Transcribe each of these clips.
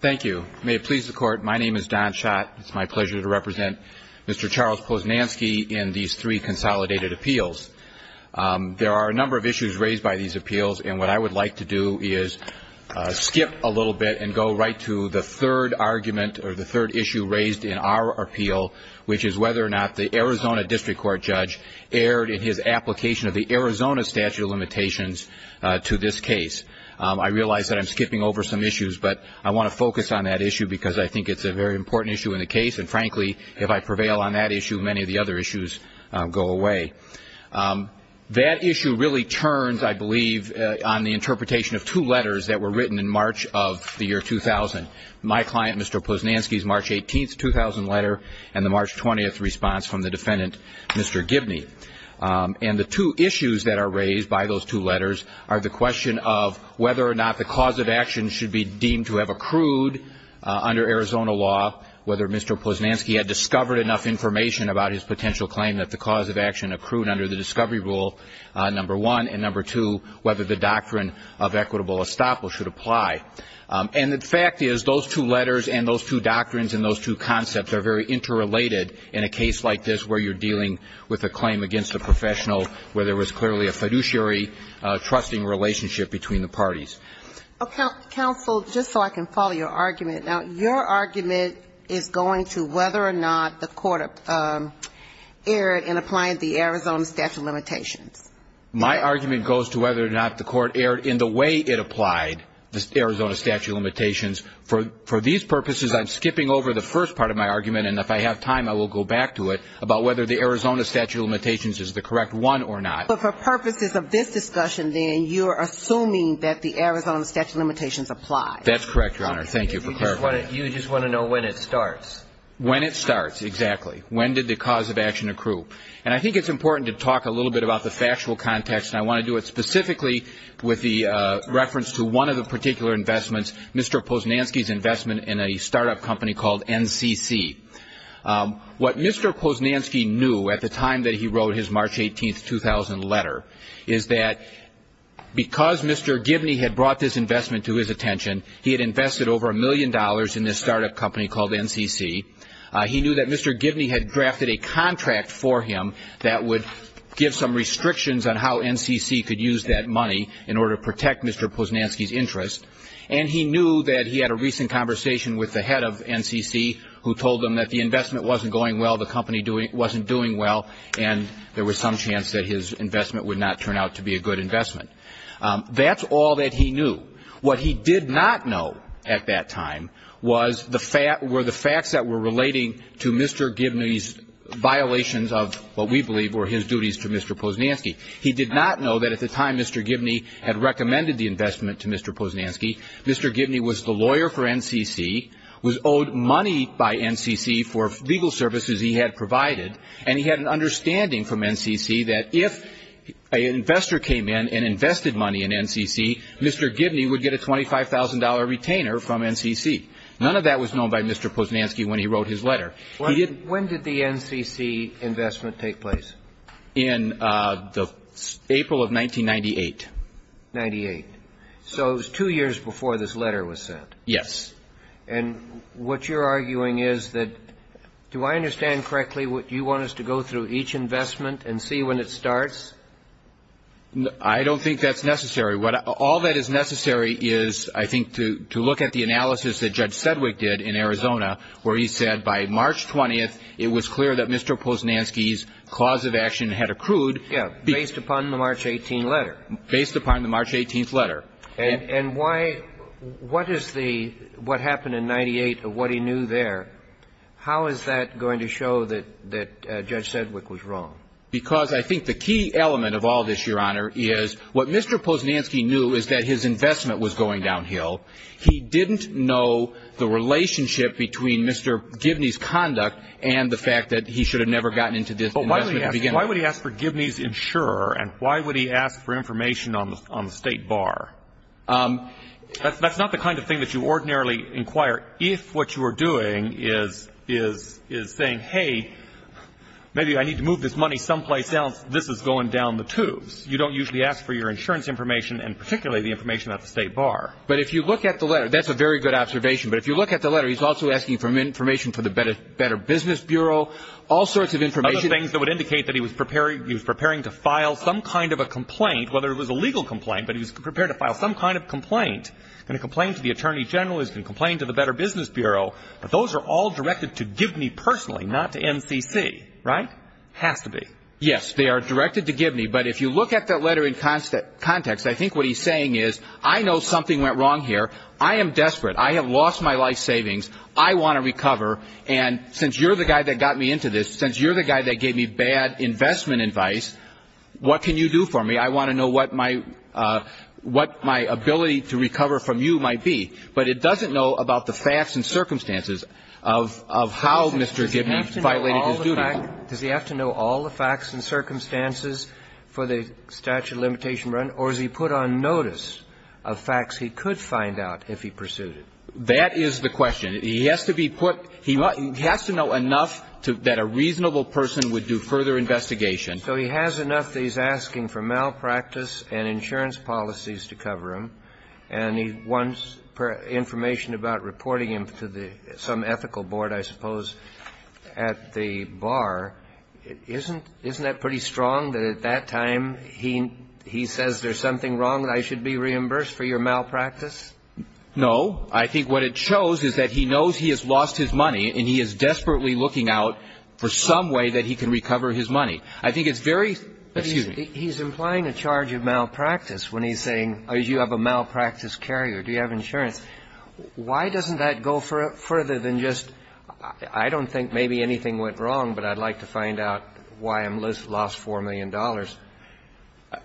Thank you. May it please the Court, my name is Don Schott. It's my pleasure to represent Mr. Charles Posnanski in these three consolidated appeals. There are a number of issues raised by these appeals, and what I would like to do is skip a little bit and go right to the third argument or the third issue raised in our appeal, which is whether or not the Arizona District Court judge erred in his application of the Arizona statute of limitations to this case. I realize that I'm skipping over some issues, but I want to focus on that issue because I think it's a very important issue in the case, and frankly, if I prevail on that issue, many of the other issues go away. That issue really turns, I believe, on the interpretation of two letters that were written in March of the year 2000. My client, Mr. Posnanski's March 18, 2000 letter and the March 20 response from the defendant, Mr. Gibney. And the two issues that are raised by those two letters are the question of whether or not the cause of action should be deemed to have accrued under Arizona law, whether Mr. Posnanski had discovered enough information about his potential claim that the cause of action accrued under the discovery rule, number one, and number two, whether the doctrine of equitable estoppel should apply. And the fact is those two letters and those two doctrines and those two concepts are very interrelated in a case like this where you're dealing with a claim against a professional where there was clearly a fiduciary trusting relationship between the parties. Counsel, just so I can follow your argument. Now, your argument is going to whether or not the court erred in applying the Arizona statute of limitations. My argument goes to whether or not the court erred in the way it applied the Arizona statute of limitations. For these purposes, I'm skipping over the first part of my argument, and if I have time, I will go back to it, about whether the Arizona statute of limitations is the correct one or not. But for purposes of this discussion, then, you're assuming that the Arizona statute of limitations applies. That's correct, Your Honor. Thank you for clarifying. You just want to know when it starts. When it starts, exactly. When did the cause of action accrue? And I think it's important to talk a little bit about the factual context, and I want to do it specifically with the reference to one of the particular investments, Mr. Posnansky's investment in a startup company called NCC. What Mr. Posnansky knew at the time that he wrote his March 18, 2000 letter is that because Mr. Gibney had brought this investment to his attention, he had invested over a million dollars in this startup company called NCC. He knew that Mr. Gibney had drafted a contract for him that would give some restrictions on how NCC could use that money in order to protect Mr. Posnansky's interest, and he knew that he had a recent conversation with the head of NCC who told him that the investment wasn't going well, the company wasn't doing well, and there was some chance that his investment would not turn out to be a good investment. That's all that he knew. What he did not know at that time were the facts that were relating to Mr. Gibney's violations of what we believe were his duties to Mr. Posnansky. He did not know that at the time Mr. Gibney had recommended the investment to Mr. Posnansky, Mr. Gibney was the lawyer for NCC, was owed money by NCC for legal services he had provided, and he had an understanding from NCC that if an investor came in and invested money in NCC, Mr. Gibney would get a $25,000 retainer from NCC. None of that was known by Mr. Posnansky when he wrote his letter. When did the NCC investment take place? In April of 1998. Ninety-eight. So it was two years before this letter was sent. Yes. And what you're arguing is that do I understand correctly what you want us to go through each investment and see when it starts? I don't think that's necessary. All that is necessary is, I think, to look at the analysis that Judge Sedgwick did in Arizona, where he said by March 20th it was clear that Mr. Posnansky's cause of action had accrued. Yes, based upon the March 18th letter. Based upon the March 18th letter. And why — what is the — what happened in 98, what he knew there, how is that going to show that Judge Sedgwick was wrong? Because I think the key element of all this, Your Honor, is what Mr. Posnansky knew is that his investment was going downhill. He didn't know the relationship between Mr. Gibney's conduct and the fact that he should have never gotten into this investment to begin with. Why would he ask for Gibney's insurer and why would he ask for information on the State Bar? That's not the kind of thing that you ordinarily inquire if what you are doing is saying, hey, maybe I need to move this money someplace else, this is going down the tubes. You don't usually ask for your insurance information and particularly the information at the State Bar. But if you look at the letter, that's a very good observation, but if you look at the letter he's also asking for information for the Better Business Bureau, all sorts of information. Other things that would indicate that he was preparing to file some kind of a complaint, whether it was a legal complaint, but he was prepared to file some kind of complaint. And a complaint to the Attorney General is a complaint to the Better Business Bureau, but those are all directed to Gibney personally, not to NCC, right? Has to be. Yes, they are directed to Gibney, but if you look at that letter in context, I think what he's saying is, I know something went wrong here, I am desperate, I have lost my life savings, I want to recover, and since you're the guy that got me into this, since you're the guy that gave me bad investment advice, what can you do for me? I want to know what my ability to recover from you might be. But it doesn't know about the facts and circumstances of how Mr. Gibney violated his duty. Does he have to know all the facts and circumstances for the statute of limitation run, or is he put on notice of facts he could find out if he pursued it? That is the question. He has to be put – he has to know enough that a reasonable person would do further investigation. So he has enough that he's asking for malpractice and insurance policies to cover him, and he wants information about reporting him to some ethical board, I suppose, at the bar. Isn't that pretty strong, that at that time he says there's something wrong and I should be reimbursed for your malpractice? No. I think what it shows is that he knows he has lost his money, and he is desperately looking out for some way that he can recover his money. I think it's very – excuse me. He's implying a charge of malpractice when he's saying you have a malpractice carrier. Do you have insurance? Why doesn't that go further than just I don't think maybe anything went wrong, but I'd like to find out why I lost $4 million?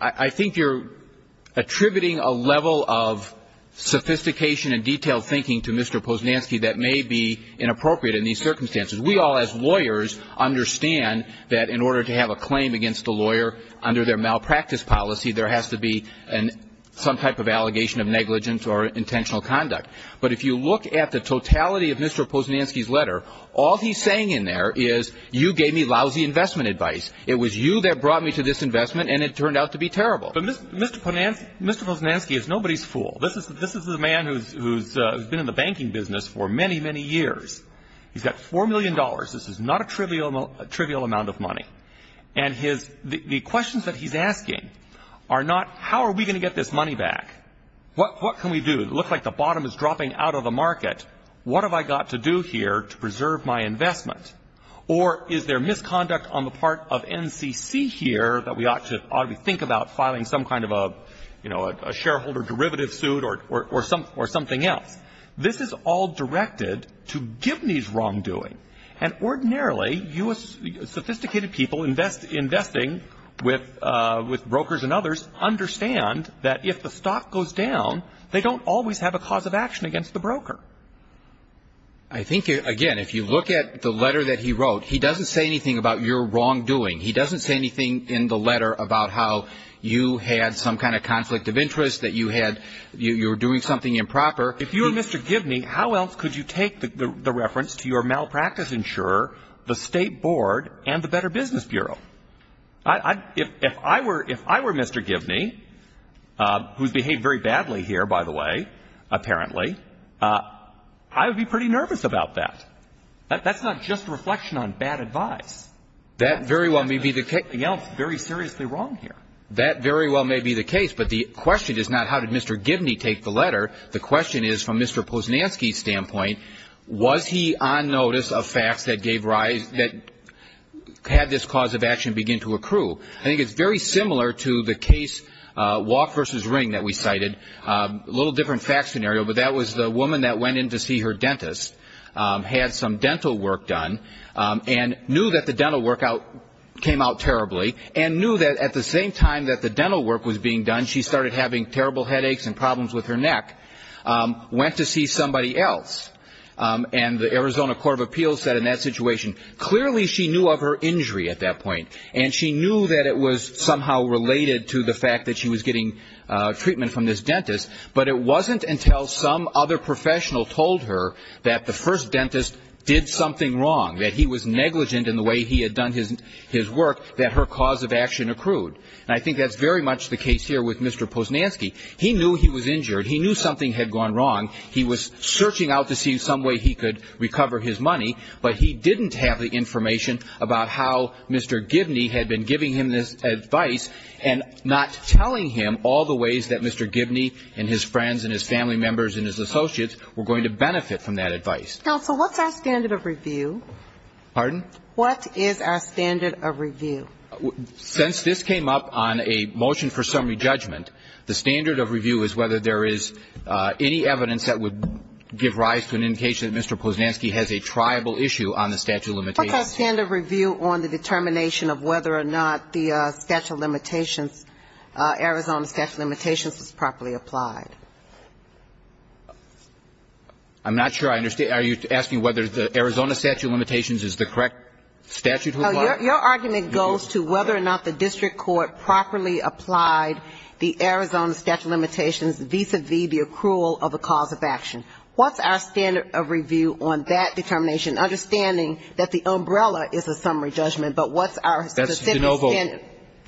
I think you're attributing a level of sophistication and detailed thinking to Mr. Posnansky that may be inappropriate in these circumstances. We all as lawyers understand that in order to have a claim against a lawyer under their malpractice policy, there has to be some type of allegation of negligence or intentional conduct. But if you look at the totality of Mr. Posnansky's letter, all he's saying in there is you gave me lousy investment advice. It was you that brought me to this investment, and it turned out to be terrible. But Mr. Posnansky is nobody's fool. This is a man who's been in the banking business for many, many years. He's got $4 million. This is not a trivial amount of money. And the questions that he's asking are not how are we going to get this money back. What can we do? It looks like the bottom is dropping out of the market. What have I got to do here to preserve my investment? Or is there misconduct on the part of NCC here that we ought to think about filing some kind of a, you know, a shareholder derivative suit or something else? This is all directed to Gibney's wrongdoing. And ordinarily, sophisticated people investing with brokers and others understand that if the stock goes down, they don't always have a cause of action against the broker. I think, again, if you look at the letter that he wrote, he doesn't say anything about your wrongdoing. He doesn't say anything in the letter about how you had some kind of conflict of interest, that you were doing something improper. If you were Mr. Gibney, how else could you take the reference to your malpractice insurer, the State Board, and the Better Business Bureau? If I were Mr. Gibney, who's behaved very badly here, by the way, apparently, I would be pretty nervous about that. That's not just a reflection on bad advice. That very well may be the case. That's not anything else very seriously wrong here. That very well may be the case. But the question is not how did Mr. Gibney take the letter. The question is, from Mr. Posnansky's standpoint, was he on notice of facts that gave rise, that had this cause of action begin to accrue? I think it's very similar to the case Walk v. Ring that we cited, a little different fact scenario, but that was the woman that went in to see her dentist, had some dental work done, and knew that the dental work came out terribly, and knew that at the same time that the dental work was being done, she started having terrible headaches and problems with her neck, went to see somebody else. And the Arizona Court of Appeals said in that situation, clearly she knew of her injury at that point, and she knew that it was somehow related to the fact that she was getting treatment from this dentist, but it wasn't until some other professional told her that the first dentist did something wrong, that he was negligent in the way he had done his work, that her cause of action accrued. And I think that's very much the case here with Mr. Posnansky. He knew he was injured. He knew something had gone wrong. He was searching out to see some way he could recover his money, but he didn't have the information about how Mr. Gibney had been giving him this advice and not telling him all the ways that Mr. Gibney and his friends and his family members and his associates were going to benefit from that advice. Counsel, what's our standard of review? Pardon? What is our standard of review? Since this came up on a motion for summary judgment, the standard of review is whether there is any evidence that would give rise to an indication that Mr. Posnansky has a triable issue on the statute of limitations. What's our standard of review on the determination of whether or not the statute of limitations, Arizona statute of limitations, is properly applied? I'm not sure I understand. Are you asking whether the Arizona statute of limitations is the correct statute to apply? No, your argument goes to whether or not the district court properly applied the Arizona statute of limitations vis-à-vis the accrual of a cause of action. What's our standard of review on that determination, understanding that the umbrella is a summary judgment, but what's our specific standard? That's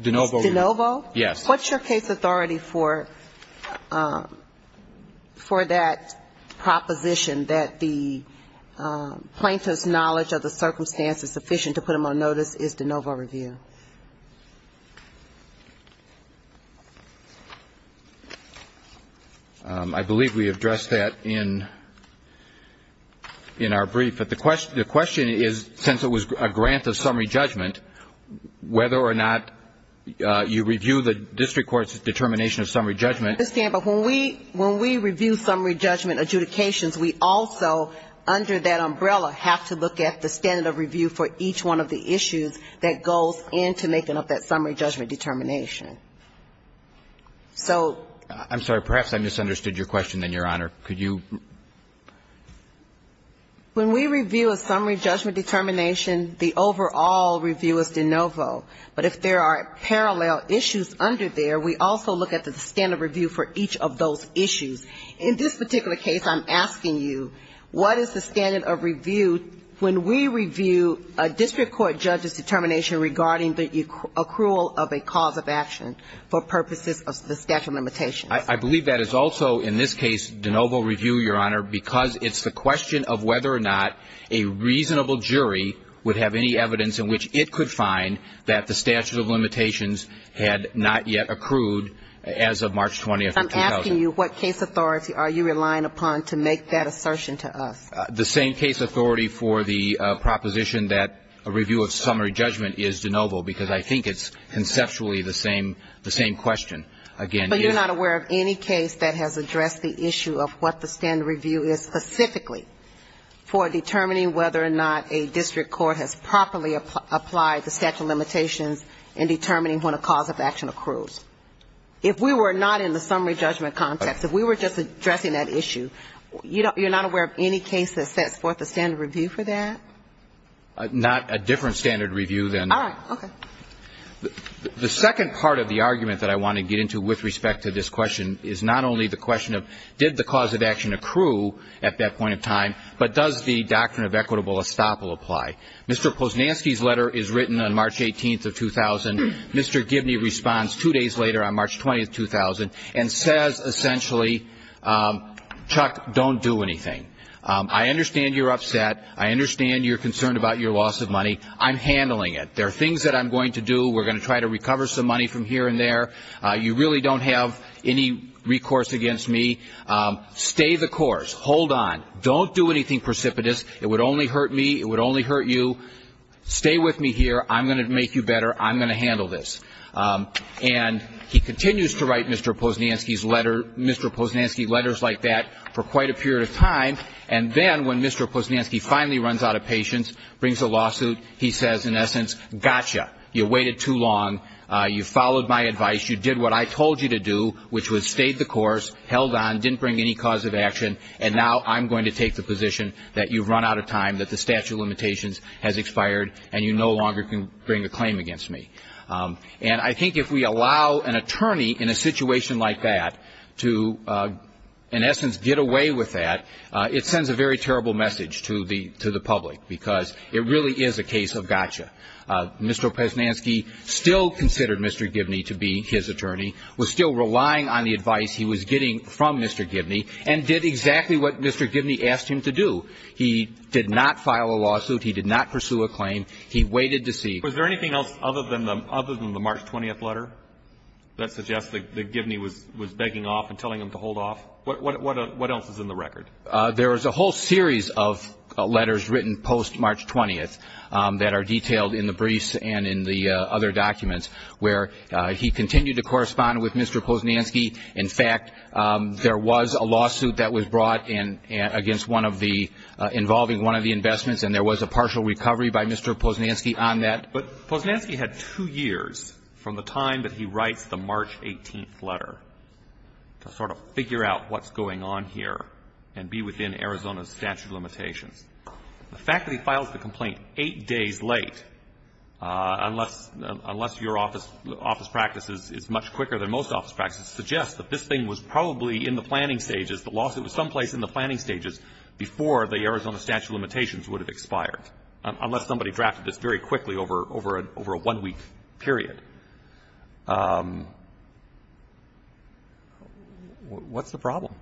de novo. De novo. De novo? What's your case authority for that proposition that the plaintiff's knowledge of the circumstance is sufficient to put him on notice is de novo review? I believe we addressed that in our brief. But the question is, since it was a grant of summary judgment, whether or not you review the district court's determination of summary judgment. I understand. But when we review summary judgment adjudications, we also, under that umbrella, have to look at the standard of review for each one of the issues that goes into making up that summary judgment determination. So ‑‑ I'm sorry. Perhaps I misunderstood your question, then, Your Honor. Could you ‑‑ When we review a summary judgment determination, the overall review is de novo. But if there are parallel issues under there, we also look at the standard review for each of those issues. In this particular case, I'm asking you, what is the standard of review when we review a district court judge's determination regarding the accrual of a cause of action for purposes of the statute of limitations? I believe that is also, in this case, de novo review, Your Honor, because it's the question of whether or not a reasonable jury would have any evidence in which it could find that the statute of limitations had not yet accrued as of March 20th of 2000. I'm asking you, what case authority are you relying upon to make that assertion to us? The same case authority for the proposition that a review of summary judgment is de novo, because I think it's conceptually the same question. But you're not aware of any case that has addressed the issue of what the standard review is specifically for determining whether or not a district court has properly applied the statute of limitations in determining when a cause of action accrues. If we were not in the summary judgment context, if we were just addressing that issue, you're not aware of any case that sets forth a standard review for that? Not a different standard review than that. All right. Okay. The second part of the argument that I want to get into with respect to this question is not only the question of did the cause of action accrue at that point in time, but does the doctrine of equitable estoppel apply? Mr. Posnansky's letter is written on March 18th of 2000. Mr. Gibney responds two days later on March 20th, 2000, and says essentially, Chuck, don't do anything. I understand you're upset. I understand you're concerned about your loss of money. I'm handling it. There are things that I'm going to do. We're going to try to recover some money from here and there. You really don't have any recourse against me. Stay the course. Hold on. Don't do anything precipitous. It would only hurt me. It would only hurt you. Stay with me here. I'm going to make you better. I'm going to handle this. And he continues to write Mr. Posnansky letters like that for quite a period of time, and then when Mr. Posnansky finally runs out of patience, brings a lawsuit, he says, in essence, gotcha. You waited too long. You followed my advice. You did what I told you to do, which was stay the course, held on, didn't bring any cause of action, and now I'm going to take the position that you've run out of time, that the statute of limitations has expired, and you no longer can bring a claim against me. And I think if we allow an attorney in a situation like that to, in essence, get away with that, it sends a very terrible message to the public because it really is a case of gotcha. Mr. Posnansky still considered Mr. Gibney to be his attorney, was still relying on the advice he was getting from Mr. Gibney, and did exactly what Mr. Gibney asked him to do. He did not file a lawsuit. He did not pursue a claim. He waited to see. Was there anything else other than the March 20th letter that suggests that Gibney was begging off and telling him to hold off? What else is in the record? There is a whole series of letters written post-March 20th that are detailed in the briefs and in the other documents where he continued to correspond with Mr. Posnansky. In fact, there was a lawsuit that was brought against one of the ñ involving one of the investments, and there was a partial recovery by Mr. Posnansky on that. But Posnansky had two years from the time that he writes the March 18th letter to sort of figure out what's going on here and be within Arizona's statute of limitations. The fact that he files the complaint eight days late, unless your office practice is much quicker than most office practices, suggests that this thing was probably in the planning stages, the lawsuit was someplace in the planning stages before the Arizona statute of limitations would have expired, unless somebody drafted this very quickly over a one-week period. What's the problem?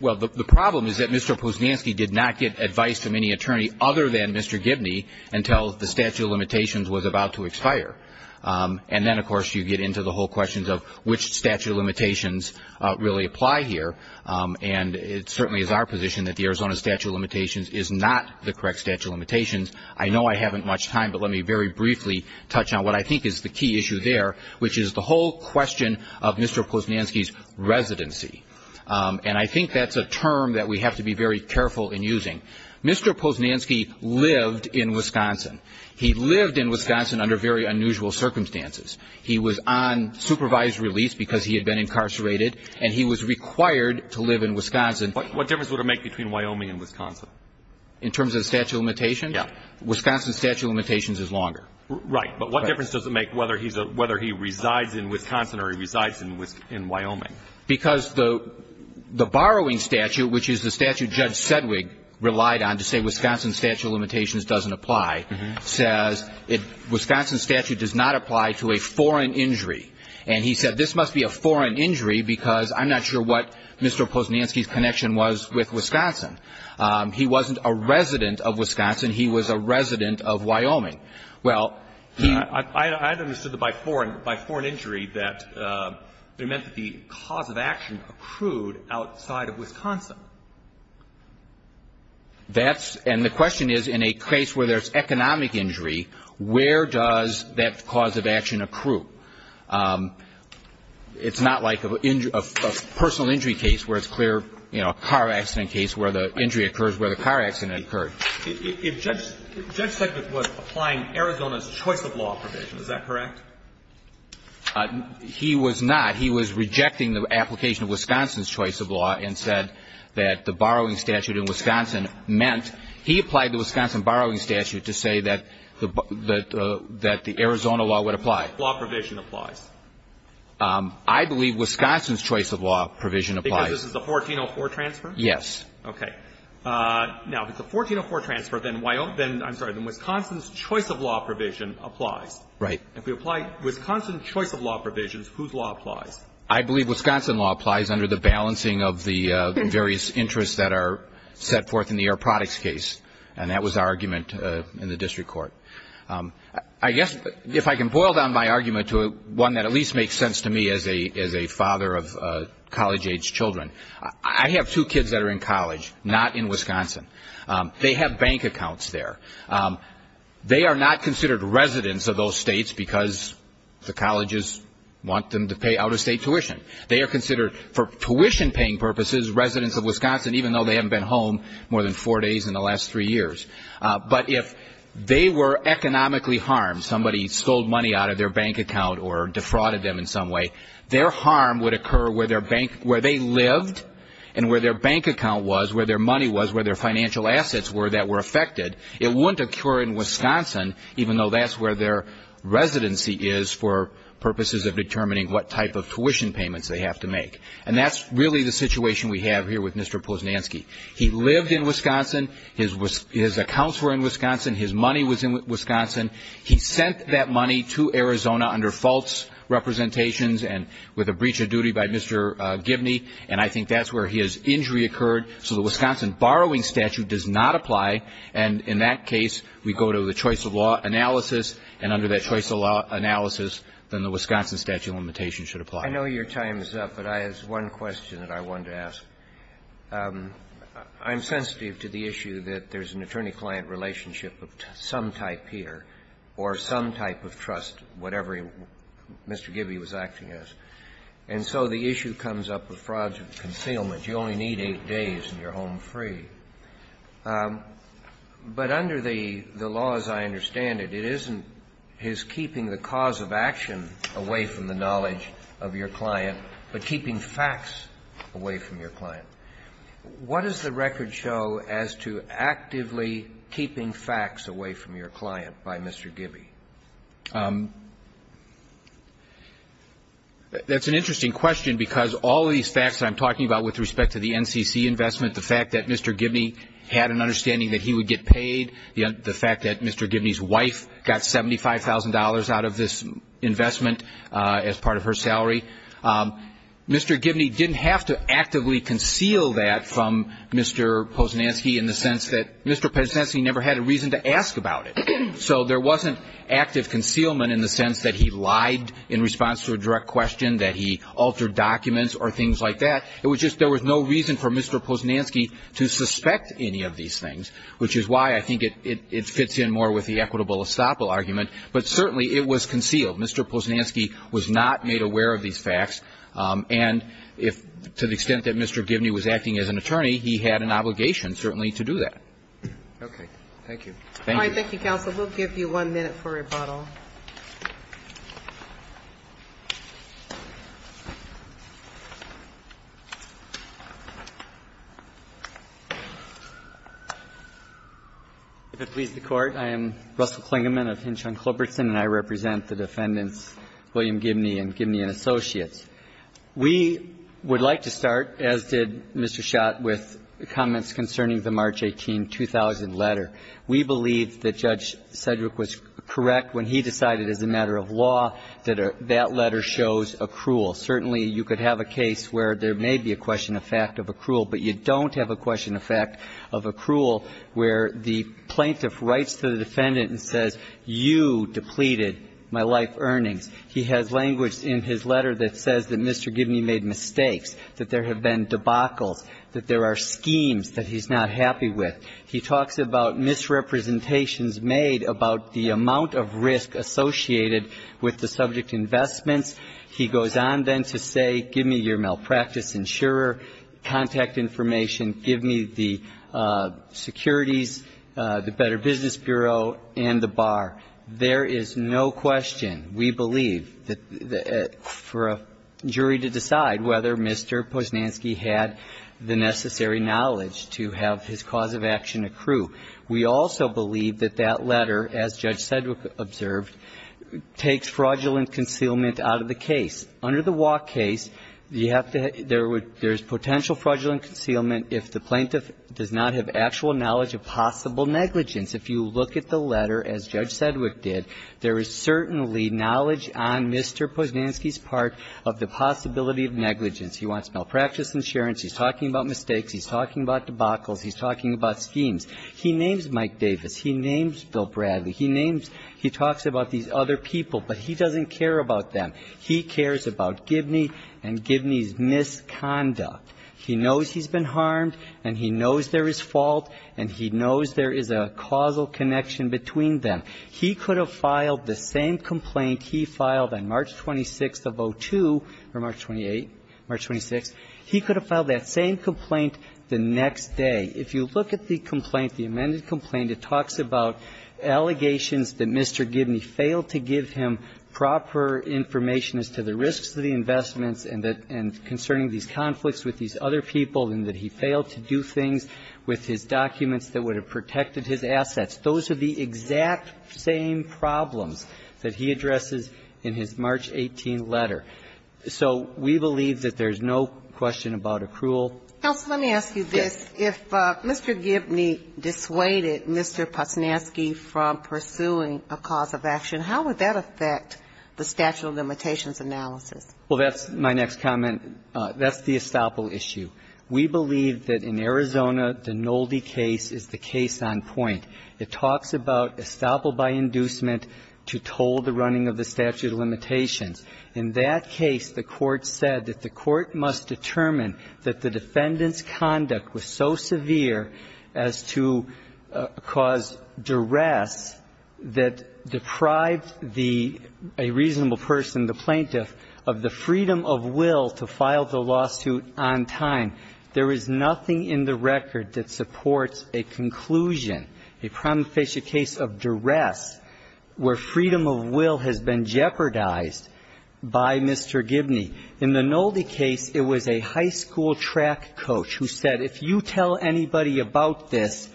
Well, the problem is that Mr. Posnansky did not get advice from any attorney other than Mr. Gibney until the statute of limitations was about to expire. And then, of course, you get into the whole questions of which statute of limitations really apply here. And it certainly is our position that the Arizona statute of limitations is not the correct statute of limitations. I know I haven't much time, but let me very briefly touch on what I think is the key issue there, which is the whole question of Mr. Posnansky's residency. And I think that's a term that we have to be very careful in using. Mr. Posnansky lived in Wisconsin. He lived in Wisconsin under very unusual circumstances. He was on supervised release because he had been incarcerated, and he was required to live in Wisconsin. What difference would it make between Wyoming and Wisconsin? In terms of the statute of limitations? Yeah. Wisconsin's statute of limitations is longer. Right. But what difference does it make whether he resides in Wisconsin or he resides in Wyoming? Because the borrowing statute, which is the statute Judge Sedgwick relied on to say Wisconsin statute of limitations doesn't apply, says Wisconsin statute does not apply to a foreign injury. And he said this must be a foreign injury because I'm not sure what Mr. Posnansky's connection was with Wisconsin. He wasn't a resident of Wisconsin. He was a resident of Wyoming. Well, he — I understood that by foreign injury that it meant that the cause of action accrued outside of Wisconsin. That's — and the question is, in a case where there's economic injury, where does that cause of action accrue? It's not like a personal injury case where it's clear, you know, a car accident case where the injury occurs where the car accident occurred. If Judge Sedgwick was applying Arizona's choice of law provision, is that correct? He was not. He was rejecting the application of Wisconsin's choice of law and said that the borrowing statute in Wisconsin meant he applied the Wisconsin borrowing statute to say that the Arizona law would apply. Which law provision applies? I believe Wisconsin's choice of law provision applies. Because this is a 1404 transfer? Yes. Okay. Now, if it's a 1404 transfer, then I'm sorry, then Wisconsin's choice of law provision applies. Right. If we apply Wisconsin's choice of law provisions, whose law applies? I believe Wisconsin law applies under the balancing of the various interests that are set forth in the Air Products case. And that was our argument in the district court. I guess if I can boil down my argument to one that at least makes sense to me as a father of college-age children, I have two kids that are in college, not in Wisconsin. They have bank accounts there. They are not considered residents of those states because the colleges want them to pay out-of-state tuition. They are considered, for tuition-paying purposes, residents of Wisconsin, even though they haven't been home more than four days in the last three years. But if they were economically harmed, somebody stole money out of their bank account or defrauded them in some way, their harm would occur where their bank, where they lived and where their bank account was, where their money was, where their financial assets were that were affected. It wouldn't occur in Wisconsin, even though that's where their residency is for purposes of determining what type of tuition payments they have to make. And that's really the situation we have here with Mr. Posnanski. He lived in Wisconsin. His accounts were in Wisconsin. His money was in Wisconsin. He sent that money to Arizona under false representations and with a breach of duty by Mr. Gibney. And I think that's where his injury occurred. So the Wisconsin borrowing statute does not apply. And in that case, we go to the choice-of-law analysis, and under that choice-of-law analysis, then the Wisconsin statute of limitations should apply. I know your time is up, but I have one question that I wanted to ask. I'm sensitive to the issue that there's an attorney-client relationship of some type here or some type of trust, whatever Mr. Gibney was acting as. And so the issue comes up with frauds and concealment. You only need eight days, and you're home free. But under the law, as I understand it, it isn't his keeping the cause of action away from the knowledge of your client, but keeping facts away from your client. What does the record show as to actively keeping facts away from your client by Mr. Gibney? That's an interesting question because all of these facts that I'm talking about with respect to the NCC investment, the fact that Mr. Gibney had an understanding that he would get paid, the fact that Mr. Gibney's wife got $75,000 out of this investment as part of her salary, Mr. Gibney didn't have to actively conceal that from Mr. Posnanski in the sense that Mr. Posnanski never had a reason to ask about it. So there wasn't active concealment in the sense that he lied in response to a direct question, that he altered documents or things like that. It was just there was no reason for Mr. Posnanski to suspect any of these things, which is why I think it fits in more with the equitable estoppel argument. But certainly it was concealed. Mr. Posnanski was not made aware of these facts. And if, to the extent that Mr. Gibney was acting as an attorney, he had an obligation certainly to do that. Okay. Thank you. Thank you. Thank you, counsel. We'll give you one minute for rebuttal. If it please the Court, I am Russell Klingerman of Hinchon-Clobertson, and I represent the defendants, William Gibney and Gibney and Associates. We would like to start, as did Mr. Schott, with comments concerning the March 18, 2000, letter. We believe that Judge Sedgwick was correct when he decided, as a matter of law, that that letter shows accrual. Certainly you could have a case where there may be a question of fact of accrual, but you don't have a question of fact of accrual where the plaintiff writes to the defendant and says, you depleted my life earnings. He has language in his letter that says that Mr. Gibney made mistakes, that there have been debacles, that there are schemes that he's not happy with. He talks about misrepresentations made about the amount of risk associated with the subject investments. He goes on then to say, give me your malpractice insurer, contact information, give me the securities, the Better Business Bureau, and the bar. There is no question, we believe, for a jury to decide whether Mr. Posnanski had the necessary knowledge to have his cause of action accrue. We also believe that that letter, as Judge Sedgwick observed, takes fraudulent concealment out of the case. Under the Waugh case, you have to have – there is potential fraudulent concealment if the plaintiff does not have actual knowledge of possible negligence. If you look at the letter, as Judge Sedgwick did, there is certainly knowledge on Mr. Posnanski's part of the possibility of negligence. He wants malpractice insurance, he's talking about mistakes, he's talking about debacles, he's talking about schemes. He names Mike Davis. He names Bill Bradley. He names – he talks about these other people, but he doesn't care about them. He cares about Gibney and Gibney's misconduct. He knows he's been harmed, and he knows there is fault, and he knows there is a causal connection between them. He could have filed the same complaint he filed on March 26th of 2002 – or March 28th, March 26th – he could have filed that same complaint the next day. If you look at the complaint, the amended complaint, it talks about allegations that Mr. Gibney failed to give him proper information as to the risks of the investments and that – and concerning these conflicts with these other people, and that he failed to do things with his documents that would have protected his assets. Those are the exact same problems that he addresses in his March 18 letter. So we believe that there's no question about accrual. Ginsburg. Counsel, let me ask you this. If Mr. Gibney dissuaded Mr. Posnansky from pursuing a cause of action, how would that affect the statute of limitations analysis? Well, that's my next comment. That's the estoppel issue. We believe that in Arizona, the Nolde case is the case on point. It talks about estoppel by inducement to toll the running of the statute of limitations. In that case, the Court said that the Court must determine that the defendant's conduct was so severe as to cause duress that deprived the – a reasonable person, the plaintiff, of the freedom of will to file the lawsuit on time. There is nothing in the record that supports a conclusion, a prima facie case of duress, where freedom of will has been jeopardized by Mr. Gibney. In the Nolde case, it was a high school track coach who said, if you tell anybody about this,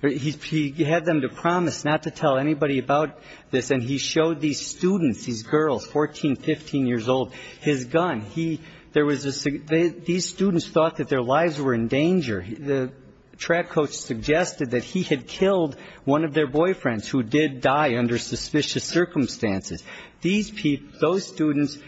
he had them to promise not to tell anybody about this. And he showed these students, these girls, 14, 15 years old, his gun. He – there was a – these students thought that their lives were in danger. The track coach suggested that he had killed one of their boyfriends, who did die under suspicious circumstances. These people – those students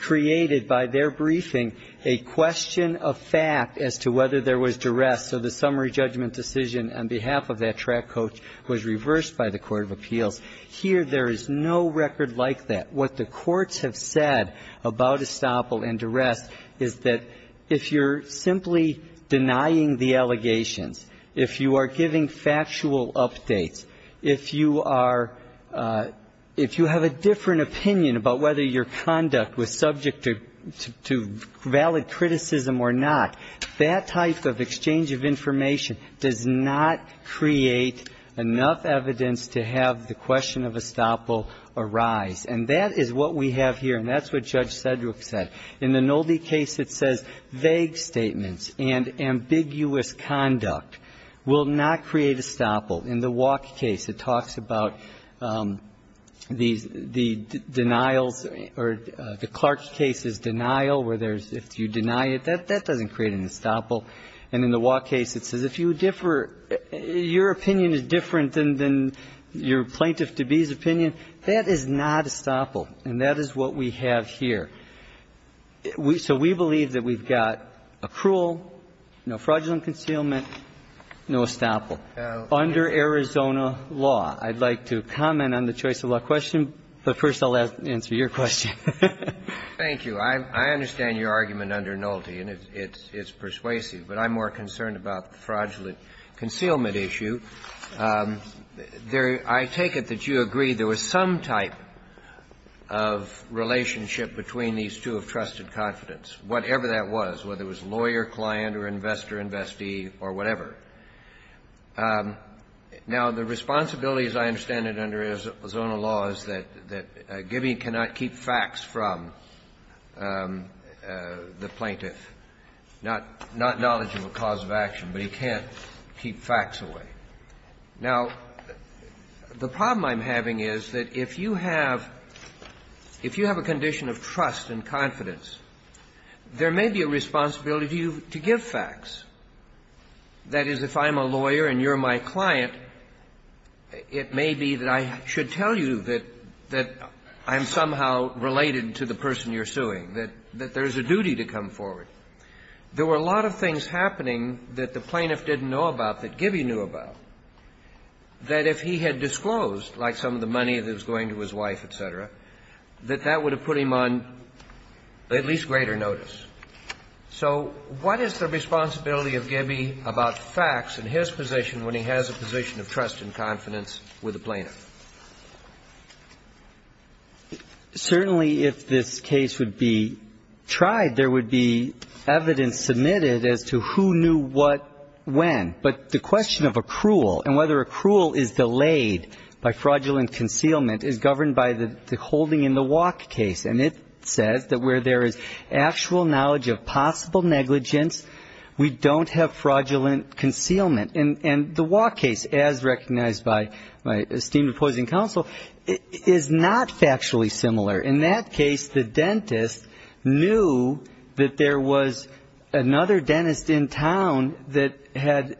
created by their briefing a question of fact as to whether there was duress. So the summary judgment decision on behalf of that track coach was reversed by the court of appeals. Here, there is no record like that. What the courts have said about estoppel and duress is that if you're simply denying the allegations, if you are giving factual updates, if you are – if you have a different opinion about whether your conduct was subject to – to valid criticism or not, that type of exchange of information does not create enough evidence to have the question of estoppel arise. And that is what we have here, and that's what Judge Sedgwick said. In the Nolde case, it says vague statements and ambiguous conduct will not create estoppel. In the Wack case, it talks about the denials or the Clark case's denial, where there's – if you deny it, that doesn't create an estoppel. And in the Wack case, it says if you differ – your opinion is different than your plaintiff-to-be's opinion. That is not estoppel, and that is what we have here. So we believe that we've got accrual, no fraudulent concealment, no estoppel under Arizona law. I'd like to comment on the choice of law question, but first I'll answer your question. Thank you. I understand your argument under Nolde, and it's persuasive, but I'm more concerned about the fraudulent concealment issue. I take it that you agree there was some type of relationship between these two of trusted confidence, whatever that was, whether it was lawyer, client, or investor, investee, or whatever. Now, the responsibility, as I understand it under Arizona law, is that Gibby cannot keep facts from the plaintiff, not knowledge of a cause of action, but he can't keep facts away. Now, the problem I'm having is that if you have – if you have a condition of trust and confidence, there may be a responsibility to you to give facts. That is, if I'm a lawyer and you're my client, it may be that I should tell you that I'm somehow related to the person you're suing, that there's a duty to come forward. There were a lot of things happening that the plaintiff didn't know about that Gibby knew about, that if he had disclosed, like some of the money that was going to his wife, et cetera, that that would have put him on at least greater notice. So what is the responsibility of Gibby about facts in his position when he has a position of trust and confidence with the plaintiff? Certainly, if this case would be tried, there would be evidence submitted as to who knew what when, but the question of accrual and whether accrual is delayed by fraudulent concealment is governed by the holding in the walk case, and it says that where there is actual knowledge of possible negligence, we don't have fraudulent concealment. And the walk case, as recognized by my esteemed opposing counsel, is not factually similar. In that case, the dentist knew that there was another dentist in town that had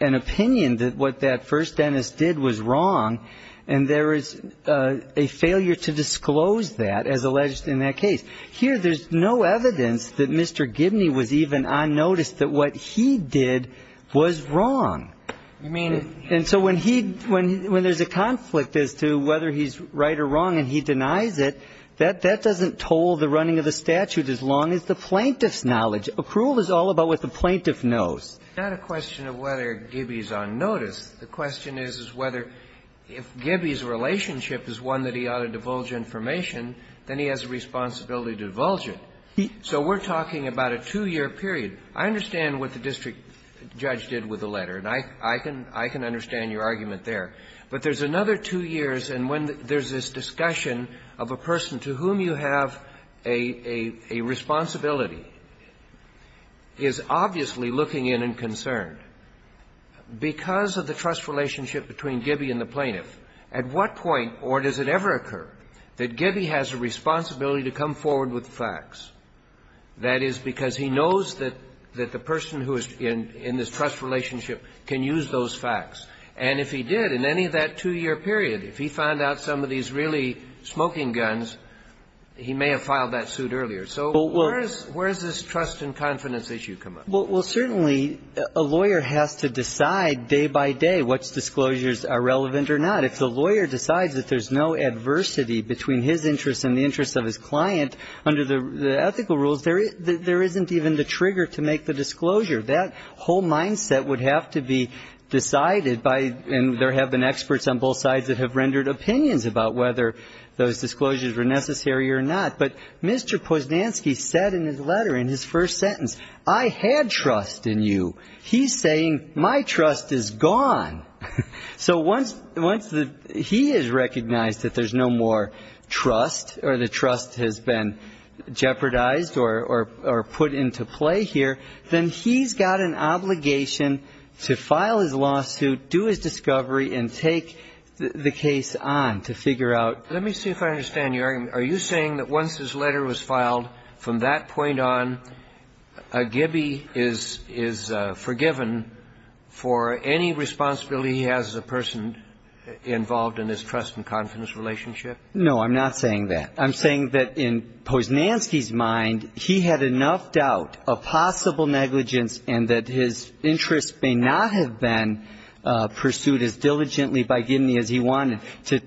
an opinion that what that first dentist did was wrong, and there is a failure to disclose that, as alleged in that case. Here, there's no evidence that Mr. Gibney was even on notice that what he did was wrong. And so when he – when there's a conflict as to whether he's right or wrong and he denies it, that doesn't toll the running of the statute as long as the plaintiff's knowledge. Accrual is all about what the plaintiff knows. It's not a question of whether Gibby's on notice. The question is, is whether if Gibby's relationship is one that he ought to divulge information, then he has a responsibility to divulge it. So we're talking about a two-year period. I understand what the district judge did with the letter, and I can understand your argument there. But there's another two years, and when there's this discussion of a person to whom you have a responsibility, is obviously looking in and concerned. Because of the trust relationship between Gibby and the plaintiff, at what point does it ever occur that Gibby has a responsibility to come forward with facts? That is, because he knows that the person who is in this trust relationship can use those facts. And if he did, in any of that two-year period, if he found out some of these really smoking guns, he may have filed that suit earlier. So where does this trust and confidence issue come up? Well, certainly, a lawyer has to decide day by day which disclosures are relevant or not. If the lawyer decides that there's no adversity between his interest and the interest of his client, under the ethical rules, there isn't even the trigger to make the disclosure. That whole mindset would have to be decided by, and there have been experts on both sides that have rendered opinions about whether those disclosures were necessary or not. But Mr. Posnansky said in his letter, in his first sentence, I had trust in you. He's saying my trust is gone. So once the he has recognized that there's no more trust or the trust has been jeopardized or put into play here, then he's got an obligation to file his lawsuit, do his discovery and take the case on to figure out. Let me see if I understand your argument. Are you saying that once his letter was filed, from that point on, Gibby is forgiven for any responsibility he has as a person involved in his trust and confidence relationship? No, I'm not saying that. I'm saying that in Posnansky's mind, he had enough doubt of possible negligence and that his interest may not have been pursued as diligently by Gibney as he wanted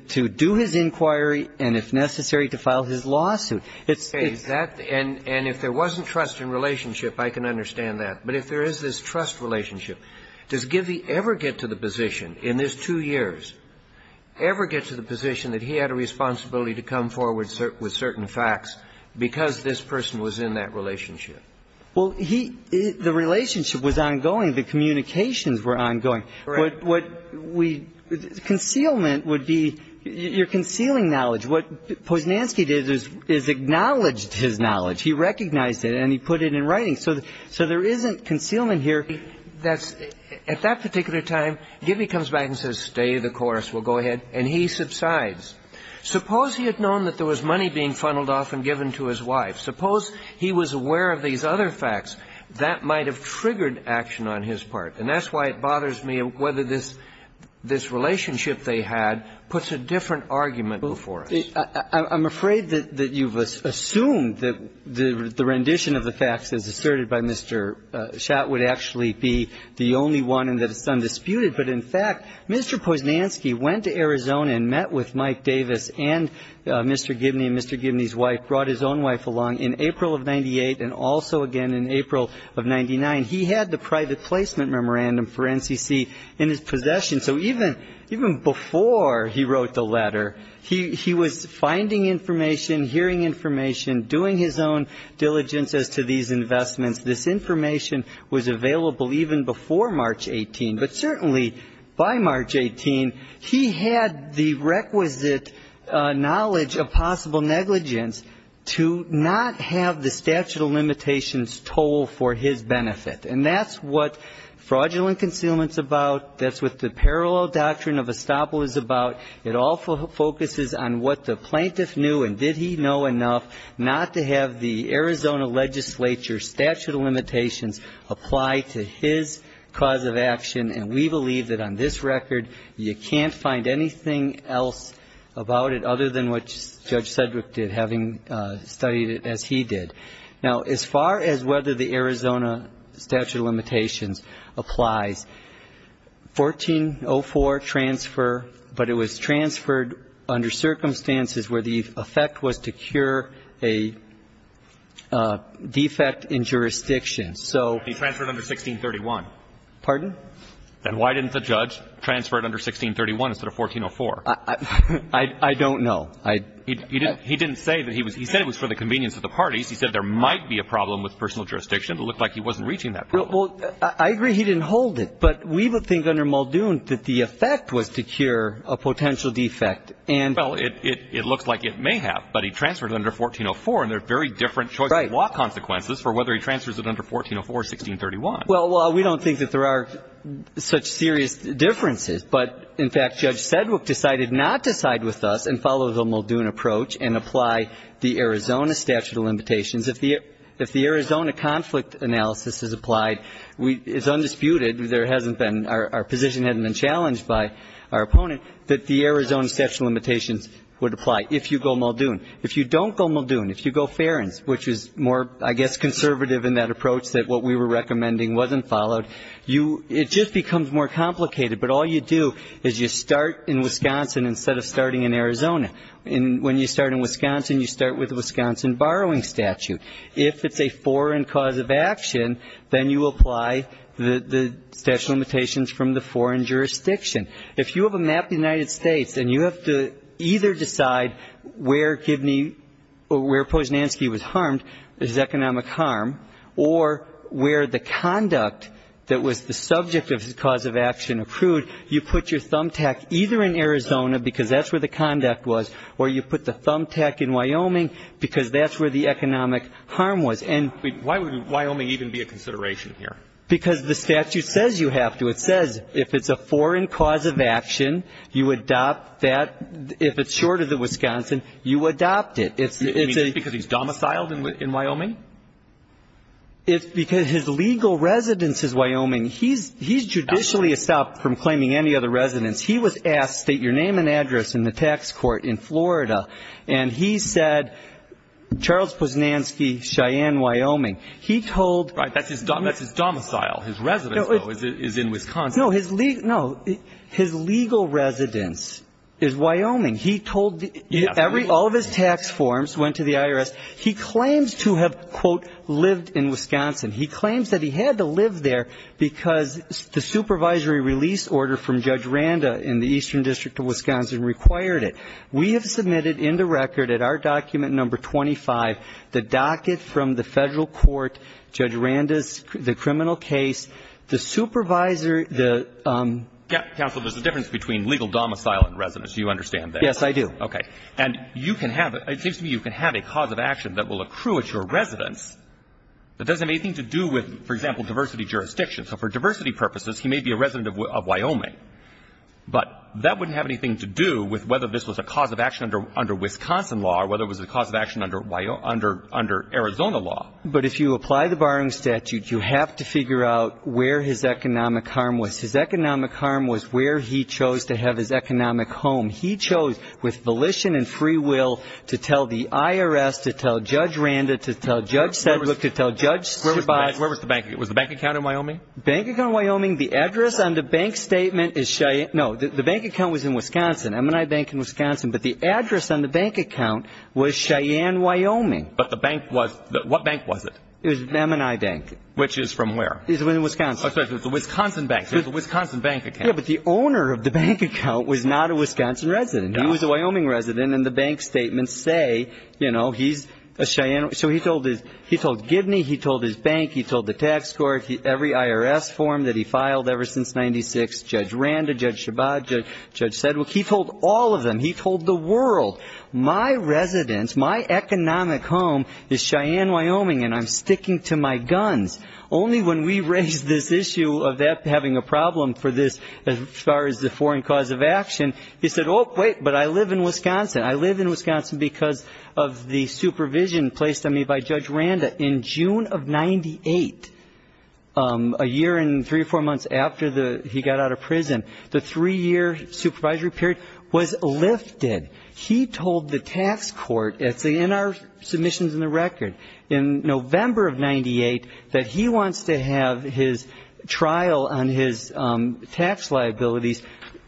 to do his inquiry and, if necessary, to file his lawsuit. It's that. And if there wasn't trust in relationship, I can understand that. But if there is this trust relationship, does Gibney ever get to the position in his two years, ever get to the position that he had a responsibility to come forward with certain facts because this person was in that relationship? Well, he the relationship was ongoing. The communications were ongoing. Right. Concealment would be you're concealing knowledge. What Posnansky did is acknowledged his knowledge. He recognized it, and he put it in writing. So there isn't concealment here. At that particular time, Gibney comes back and says, stay the course, we'll go ahead, and he subsides. Suppose he had known that there was money being funneled off and given to his wife. Suppose he was aware of these other facts. That might have triggered action on his part. And that's why it bothers me whether this relationship they had puts a different argument before us. I'm afraid that you've assumed that the rendition of the facts as asserted by Mr. Schott would actually be the only one and that it's undisputed. But, in fact, Mr. Posnansky went to Arizona and met with Mike Davis and Mr. Gibney and Mr. Gibney's wife, brought his own wife along in April of 98 and also again in April of 99. He had the private placement memorandum for NCC in his possession. So even before he wrote the letter, he was finding information, hearing information, doing his own diligence as to these investments. This information was available even before March 18. But certainly by March 18, he had the requisite knowledge of possible negligence to not have the statute of limitations toll for his benefit. And that's what fraudulent concealment is about. That's what the parallel doctrine of estoppel is about. It all focuses on what the plaintiff knew and did he know enough not to have the Arizona legislature statute of limitations apply to his cause of action. And we believe that on this record, you can't find anything else about it other than what Judge Sedgwick did, having studied it as he did. Now, as far as whether the Arizona statute of limitations applies, 1404 transfer, but it was transferred under circumstances where the effect was to cure a defect in jurisdiction. So he transferred under 1631. Pardon? Then why didn't the judge transfer it under 1631 instead of 1404? I don't know. He didn't say that. He said it was for the convenience of the parties. He said there might be a problem with personal jurisdiction. It looked like he wasn't reaching that problem. Well, I agree he didn't hold it. But we would think under Muldoon that the effect was to cure a potential defect. Well, it looks like it may have. But he transferred it under 1404, and there are very different choice of law consequences for whether he transfers it under 1404 or 1631. Well, we don't think that there are such serious differences. But, in fact, Judge Sedgwick decided not to side with us and follow the Muldoon approach and apply the Arizona statute of limitations. If the Arizona conflict analysis is applied, it's undisputed, there hasn't been or our position hasn't been challenged by our opponent, that the Arizona statute of limitations would apply if you go Muldoon. If you don't go Muldoon, if you go Ferens, which is more, I guess, conservative in that approach that what we were recommending wasn't followed, it just becomes more complicated. But all you do is you start in Wisconsin instead of starting in Arizona. And when you start in Wisconsin, you start with the Wisconsin borrowing statute. If it's a foreign cause of action, then you apply the statute of limitations from the foreign jurisdiction. If you have a map of the United States and you have to either decide where Givney or where Posnanski was harmed, his economic harm, or where the conduct that was the subject of his cause of action accrued, you put your thumbtack either in Arizona because that's where the conduct was, or you put the thumbtack in Wyoming because that's where the economic harm was. And why would Wyoming even be a consideration here? Because the statute says you have to. It says if it's a foreign cause of action, you adopt that. If it's short of the Wisconsin, you adopt it. Is it because he's domiciled in Wyoming? It's because his legal residence is Wyoming. He's judicially stopped from claiming any other residence. He was asked, state your name and address in the tax court in Florida, and he said, Charles Posnanski, Cheyenne, Wyoming. He told the- Right. That's his domicile. His residence, though, is in Wisconsin. No. His legal residence is Wyoming. He told the- Yes. All of his tax forms went to the IRS. He claims to have, quote, lived in Wisconsin. He claims that he had to live there because the supervisory release order from Judge Randa in the Eastern District of Wisconsin required it. We have submitted into record at our document number 25 the docket from the federal court, Judge Randa's criminal case, the supervisor- Counsel, there's a difference between legal domicile and residence. Do you understand that? Yes, I do. Okay. And you can have- It seems to me you can have a cause of action that will accrue at your residence that doesn't have anything to do with, for example, diversity jurisdiction. So for diversity purposes, he may be a resident of Wyoming. But that wouldn't have anything to do with whether this was a cause of action under Wisconsin law or whether it was a cause of action under Arizona law. But if you apply the barring statute, you have to figure out where his economic harm was. His economic harm was where he chose to have his economic home. And he chose, with volition and free will, to tell the IRS, to tell Judge Randa, to tell Judge Sedgwick, to tell Judge Chabot- Where was the bank? Was the bank account in Wyoming? Bank account in Wyoming. The address on the bank statement is Cheyenne- No, the bank account was in Wisconsin, M&I Bank in Wisconsin. But the address on the bank account was Cheyenne, Wyoming. But the bank was- What bank was it? It was M&I Bank. Which is from where? It's in Wisconsin. Oh, sorry. So it's a Wisconsin bank. So it's a Wisconsin bank account. Yeah, but the owner of the bank account was not a Wisconsin resident. No. He was a Wyoming resident, and the bank statements say, you know, he's a Cheyenne- So he told Gibney, he told his bank, he told the tax court, every IRS form that he filed ever since 1996, Judge Randa, Judge Chabot, Judge Sedgwick. He told all of them. He told the world, my residence, my economic home is Cheyenne, Wyoming, and I'm sticking to my guns. Only when we raised this issue of having a problem for this as far as the foreign cause of action, he said, oh, wait, but I live in Wisconsin. I live in Wisconsin because of the supervision placed on me by Judge Randa. In June of 1998, a year and three or four months after he got out of prison, the three-year supervisory period was lifted. He told the tax court, it's in our submissions in the record, in November of 1998, that he wants to have his trial on his tax liabilities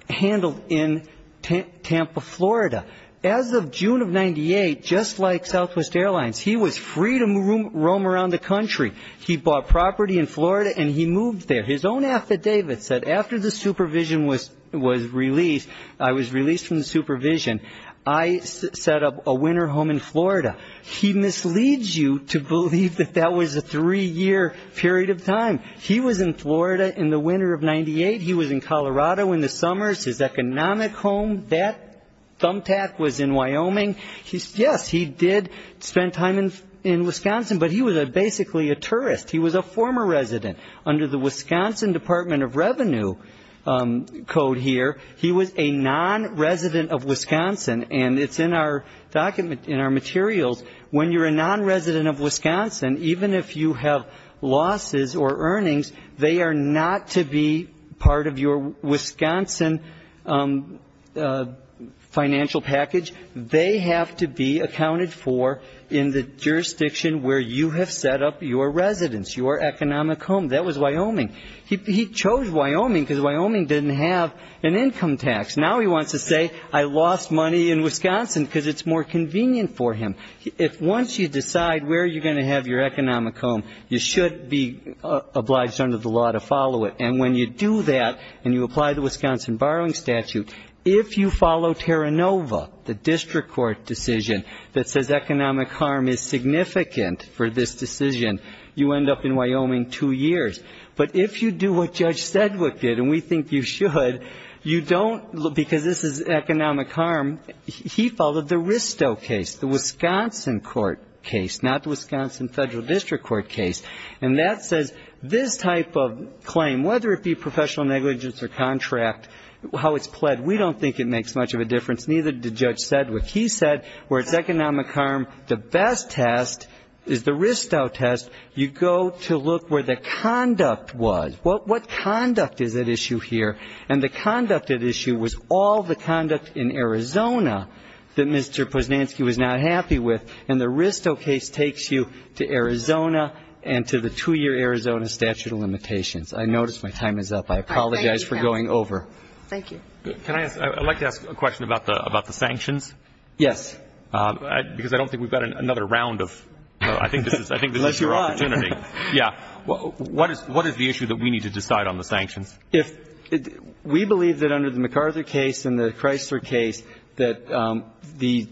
handled in Tampa, Florida. As of June of 1998, just like Southwest Airlines, he was free to roam around the country. He bought property in Florida, and he moved there. His own affidavit said, after the supervision was released, I was released from the supervision. I set up a winter home in Florida. He misleads you to believe that that was a three-year period of time. He was in Florida in the winter of 1998. He was in Colorado in the summers. His economic home, that thumbtack, was in Wyoming. Yes, he did spend time in Wisconsin, but he was basically a tourist. He was a former resident. Under the Wisconsin Department of Revenue code here, he was a non-resident of Wisconsin, and it's in our document, in our materials. When you're a non-resident of Wisconsin, even if you have losses or earnings, they are not to be part of your Wisconsin financial package. They have to be accounted for in the jurisdiction where you have set up your residence, your economic home. That was Wyoming. He chose Wyoming because Wyoming didn't have an income tax. Now he wants to say, I lost money in Wisconsin, because it's more convenient for him. Once you decide where you're going to have your economic home, you should be obliged under the law to follow it. And when you do that, and you apply the Wisconsin Borrowing Statute, if you follow Terranova, the district court decision that says economic harm is significant for this decision, you end up in Wyoming two years. But if you do what Judge Sedgwick did, and we think you should, you don't, because this is economic harm. He followed the Risto case, the Wisconsin court case, not the Wisconsin Federal District Court case. And that says this type of claim, whether it be professional negligence or contract, how it's pled, we don't think it makes much of a difference, neither did Judge Sedgwick. He said where it's economic harm, the best test is the Risto test. You go to look where the conduct was. What conduct is at issue here? And the conduct at issue was all the conduct in Arizona that Mr. Posnanski was not happy with, and the Risto case takes you to Arizona and to the two-year Arizona statute of limitations. I notice my time is up. I apologize for going over. MS. POSNANSKI Thank you. I'd like to ask a question about the sanctions. Because I don't think we've got another round of, I think this is your opportunity. What is the issue that we need to decide on the sanctions? We believe that under the MacArthur case and the Chrysler case that the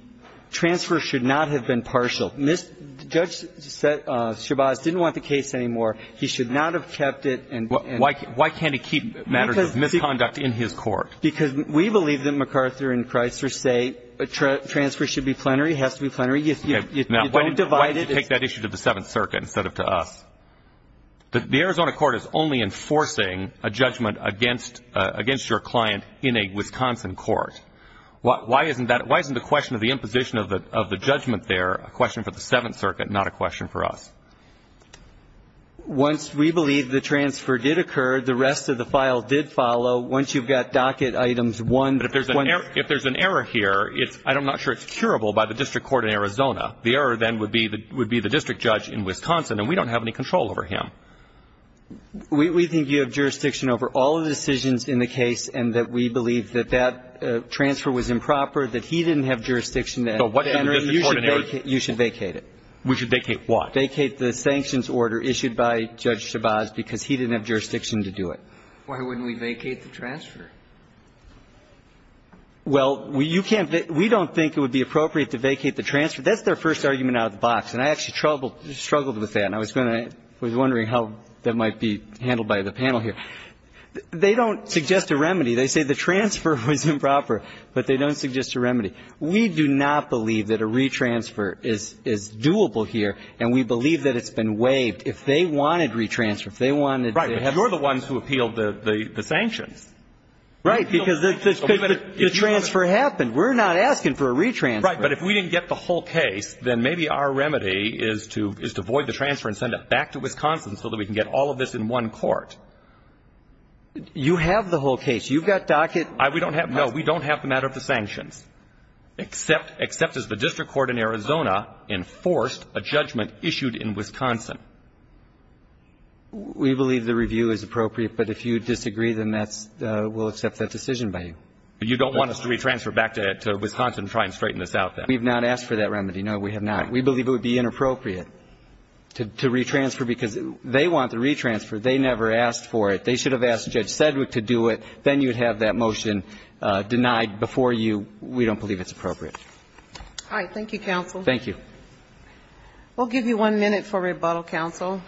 transfer should not have been partial. Judge Shabazz didn't want the case anymore. He should not have kept it. Why can't he keep matters of misconduct in his court? Because we believe that MacArthur and Chrysler say a transfer should be plenary, has to be plenary. You don't divide it. Why did you take that issue to the Seventh Circuit instead of to us? The Arizona court is only enforcing a judgment against your client in a Wisconsin court. Why isn't the question of the imposition of the judgment there a question for the Seventh Circuit, not a question for us? Once we believe the transfer did occur, the rest of the file did follow. Once you've got docket items 1 to 20. If there's an error here, I'm not sure it's curable by the district court in Arizona. The error then would be the district judge in Wisconsin, and we don't have any control over him. We think you have jurisdiction over all the decisions in the case and that we believe that that transfer was improper, that he didn't have jurisdiction to enter it. You should vacate it. We should vacate what? Vacate the sanctions order issued by Judge Shabazz because he didn't have jurisdiction to do it. Why wouldn't we vacate the transfer? Well, we don't think it would be appropriate to vacate the transfer. That's their first argument out of the box, and I actually struggled with that. And I was wondering how that might be handled by the panel here. They don't suggest a remedy. They say the transfer was improper, but they don't suggest a remedy. We do not believe that a retransfer is doable here, and we believe that it's been waived. If they wanted retransfer, if they wanted to have the ---- Right. But you're the ones who appealed the sanctions. Right. Because the transfer happened. We're not asking for a retransfer. Right. But if we didn't get the whole case, then maybe our remedy is to void the transfer and send it back to Wisconsin so that we can get all of this in one court. You have the whole case. You've got docket ---- We don't have. No, we don't have the matter of the sanctions, except as the district court in Arizona enforced a judgment issued in Wisconsin. We believe the review is appropriate, but if you disagree, then that's ---- we'll accept that decision by you. You don't want us to retransfer back to Wisconsin to try and straighten this out, then? We've not asked for that remedy. No, we have not. We believe it would be inappropriate to retransfer because they want the retransfer. They never asked for it. They should have asked Judge Sedgwick to do it. Then you'd have that motion denied before you. We don't believe it's appropriate. All right. Thank you. We'll give you one minute for rebuttal, counsel.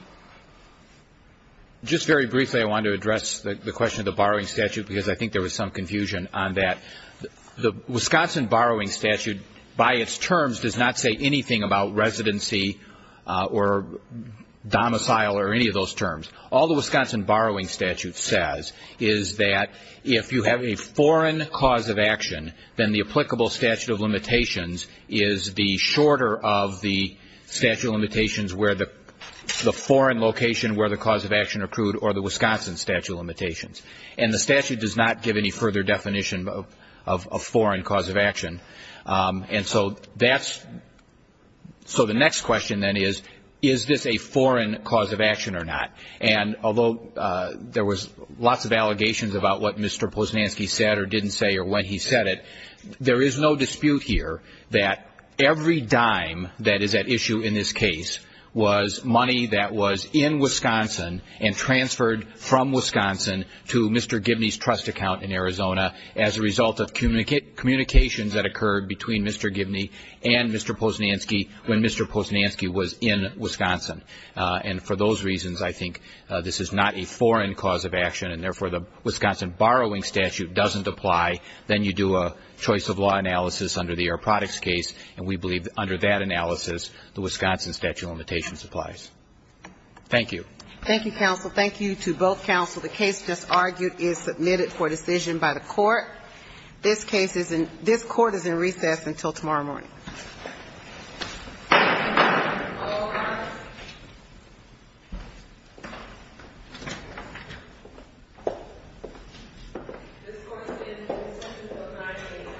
Just very briefly, I wanted to address the question of the borrowing statute, because I think there was some confusion on that. The Wisconsin borrowing statute, by its terms, does not say anything about residency or domicile or any of those terms. All the Wisconsin borrowing statute says is that if you have a foreign cause of action, then the applicable statute of limitations is the shorter of the statute of limitations where the foreign location where the cause of action accrued or the Wisconsin statute of limitations. And the statute does not give any further definition of foreign cause of action. And so that's ---- so the next question, then, is, is this a foreign cause of action or not? And although there was lots of allegations about what Mr. Posnanski said or didn't say or when he said it, there is no dispute here that every dime that is at issue in this case was money that was in Wisconsin and transferred from Wisconsin to Mr. Gibney's trust account in Arizona as a result of communications that occurred between Mr. Gibney and Mr. Posnanski when Mr. Posnanski was in Wisconsin. And for those reasons, I think this is not a foreign cause of action, and therefore the Wisconsin borrowing statute doesn't apply. Then you do a choice of law analysis under the Air Products case, and we believe under that analysis the Wisconsin statute of limitations applies. Thank you. Thank you, counsel. Thank you to both counsel. The case just argued is submitted for decision by the court. This case is in ---- this court is in recess until tomorrow morning. All rise. This court is in recess until 9 a.m. tomorrow morning. Thank you.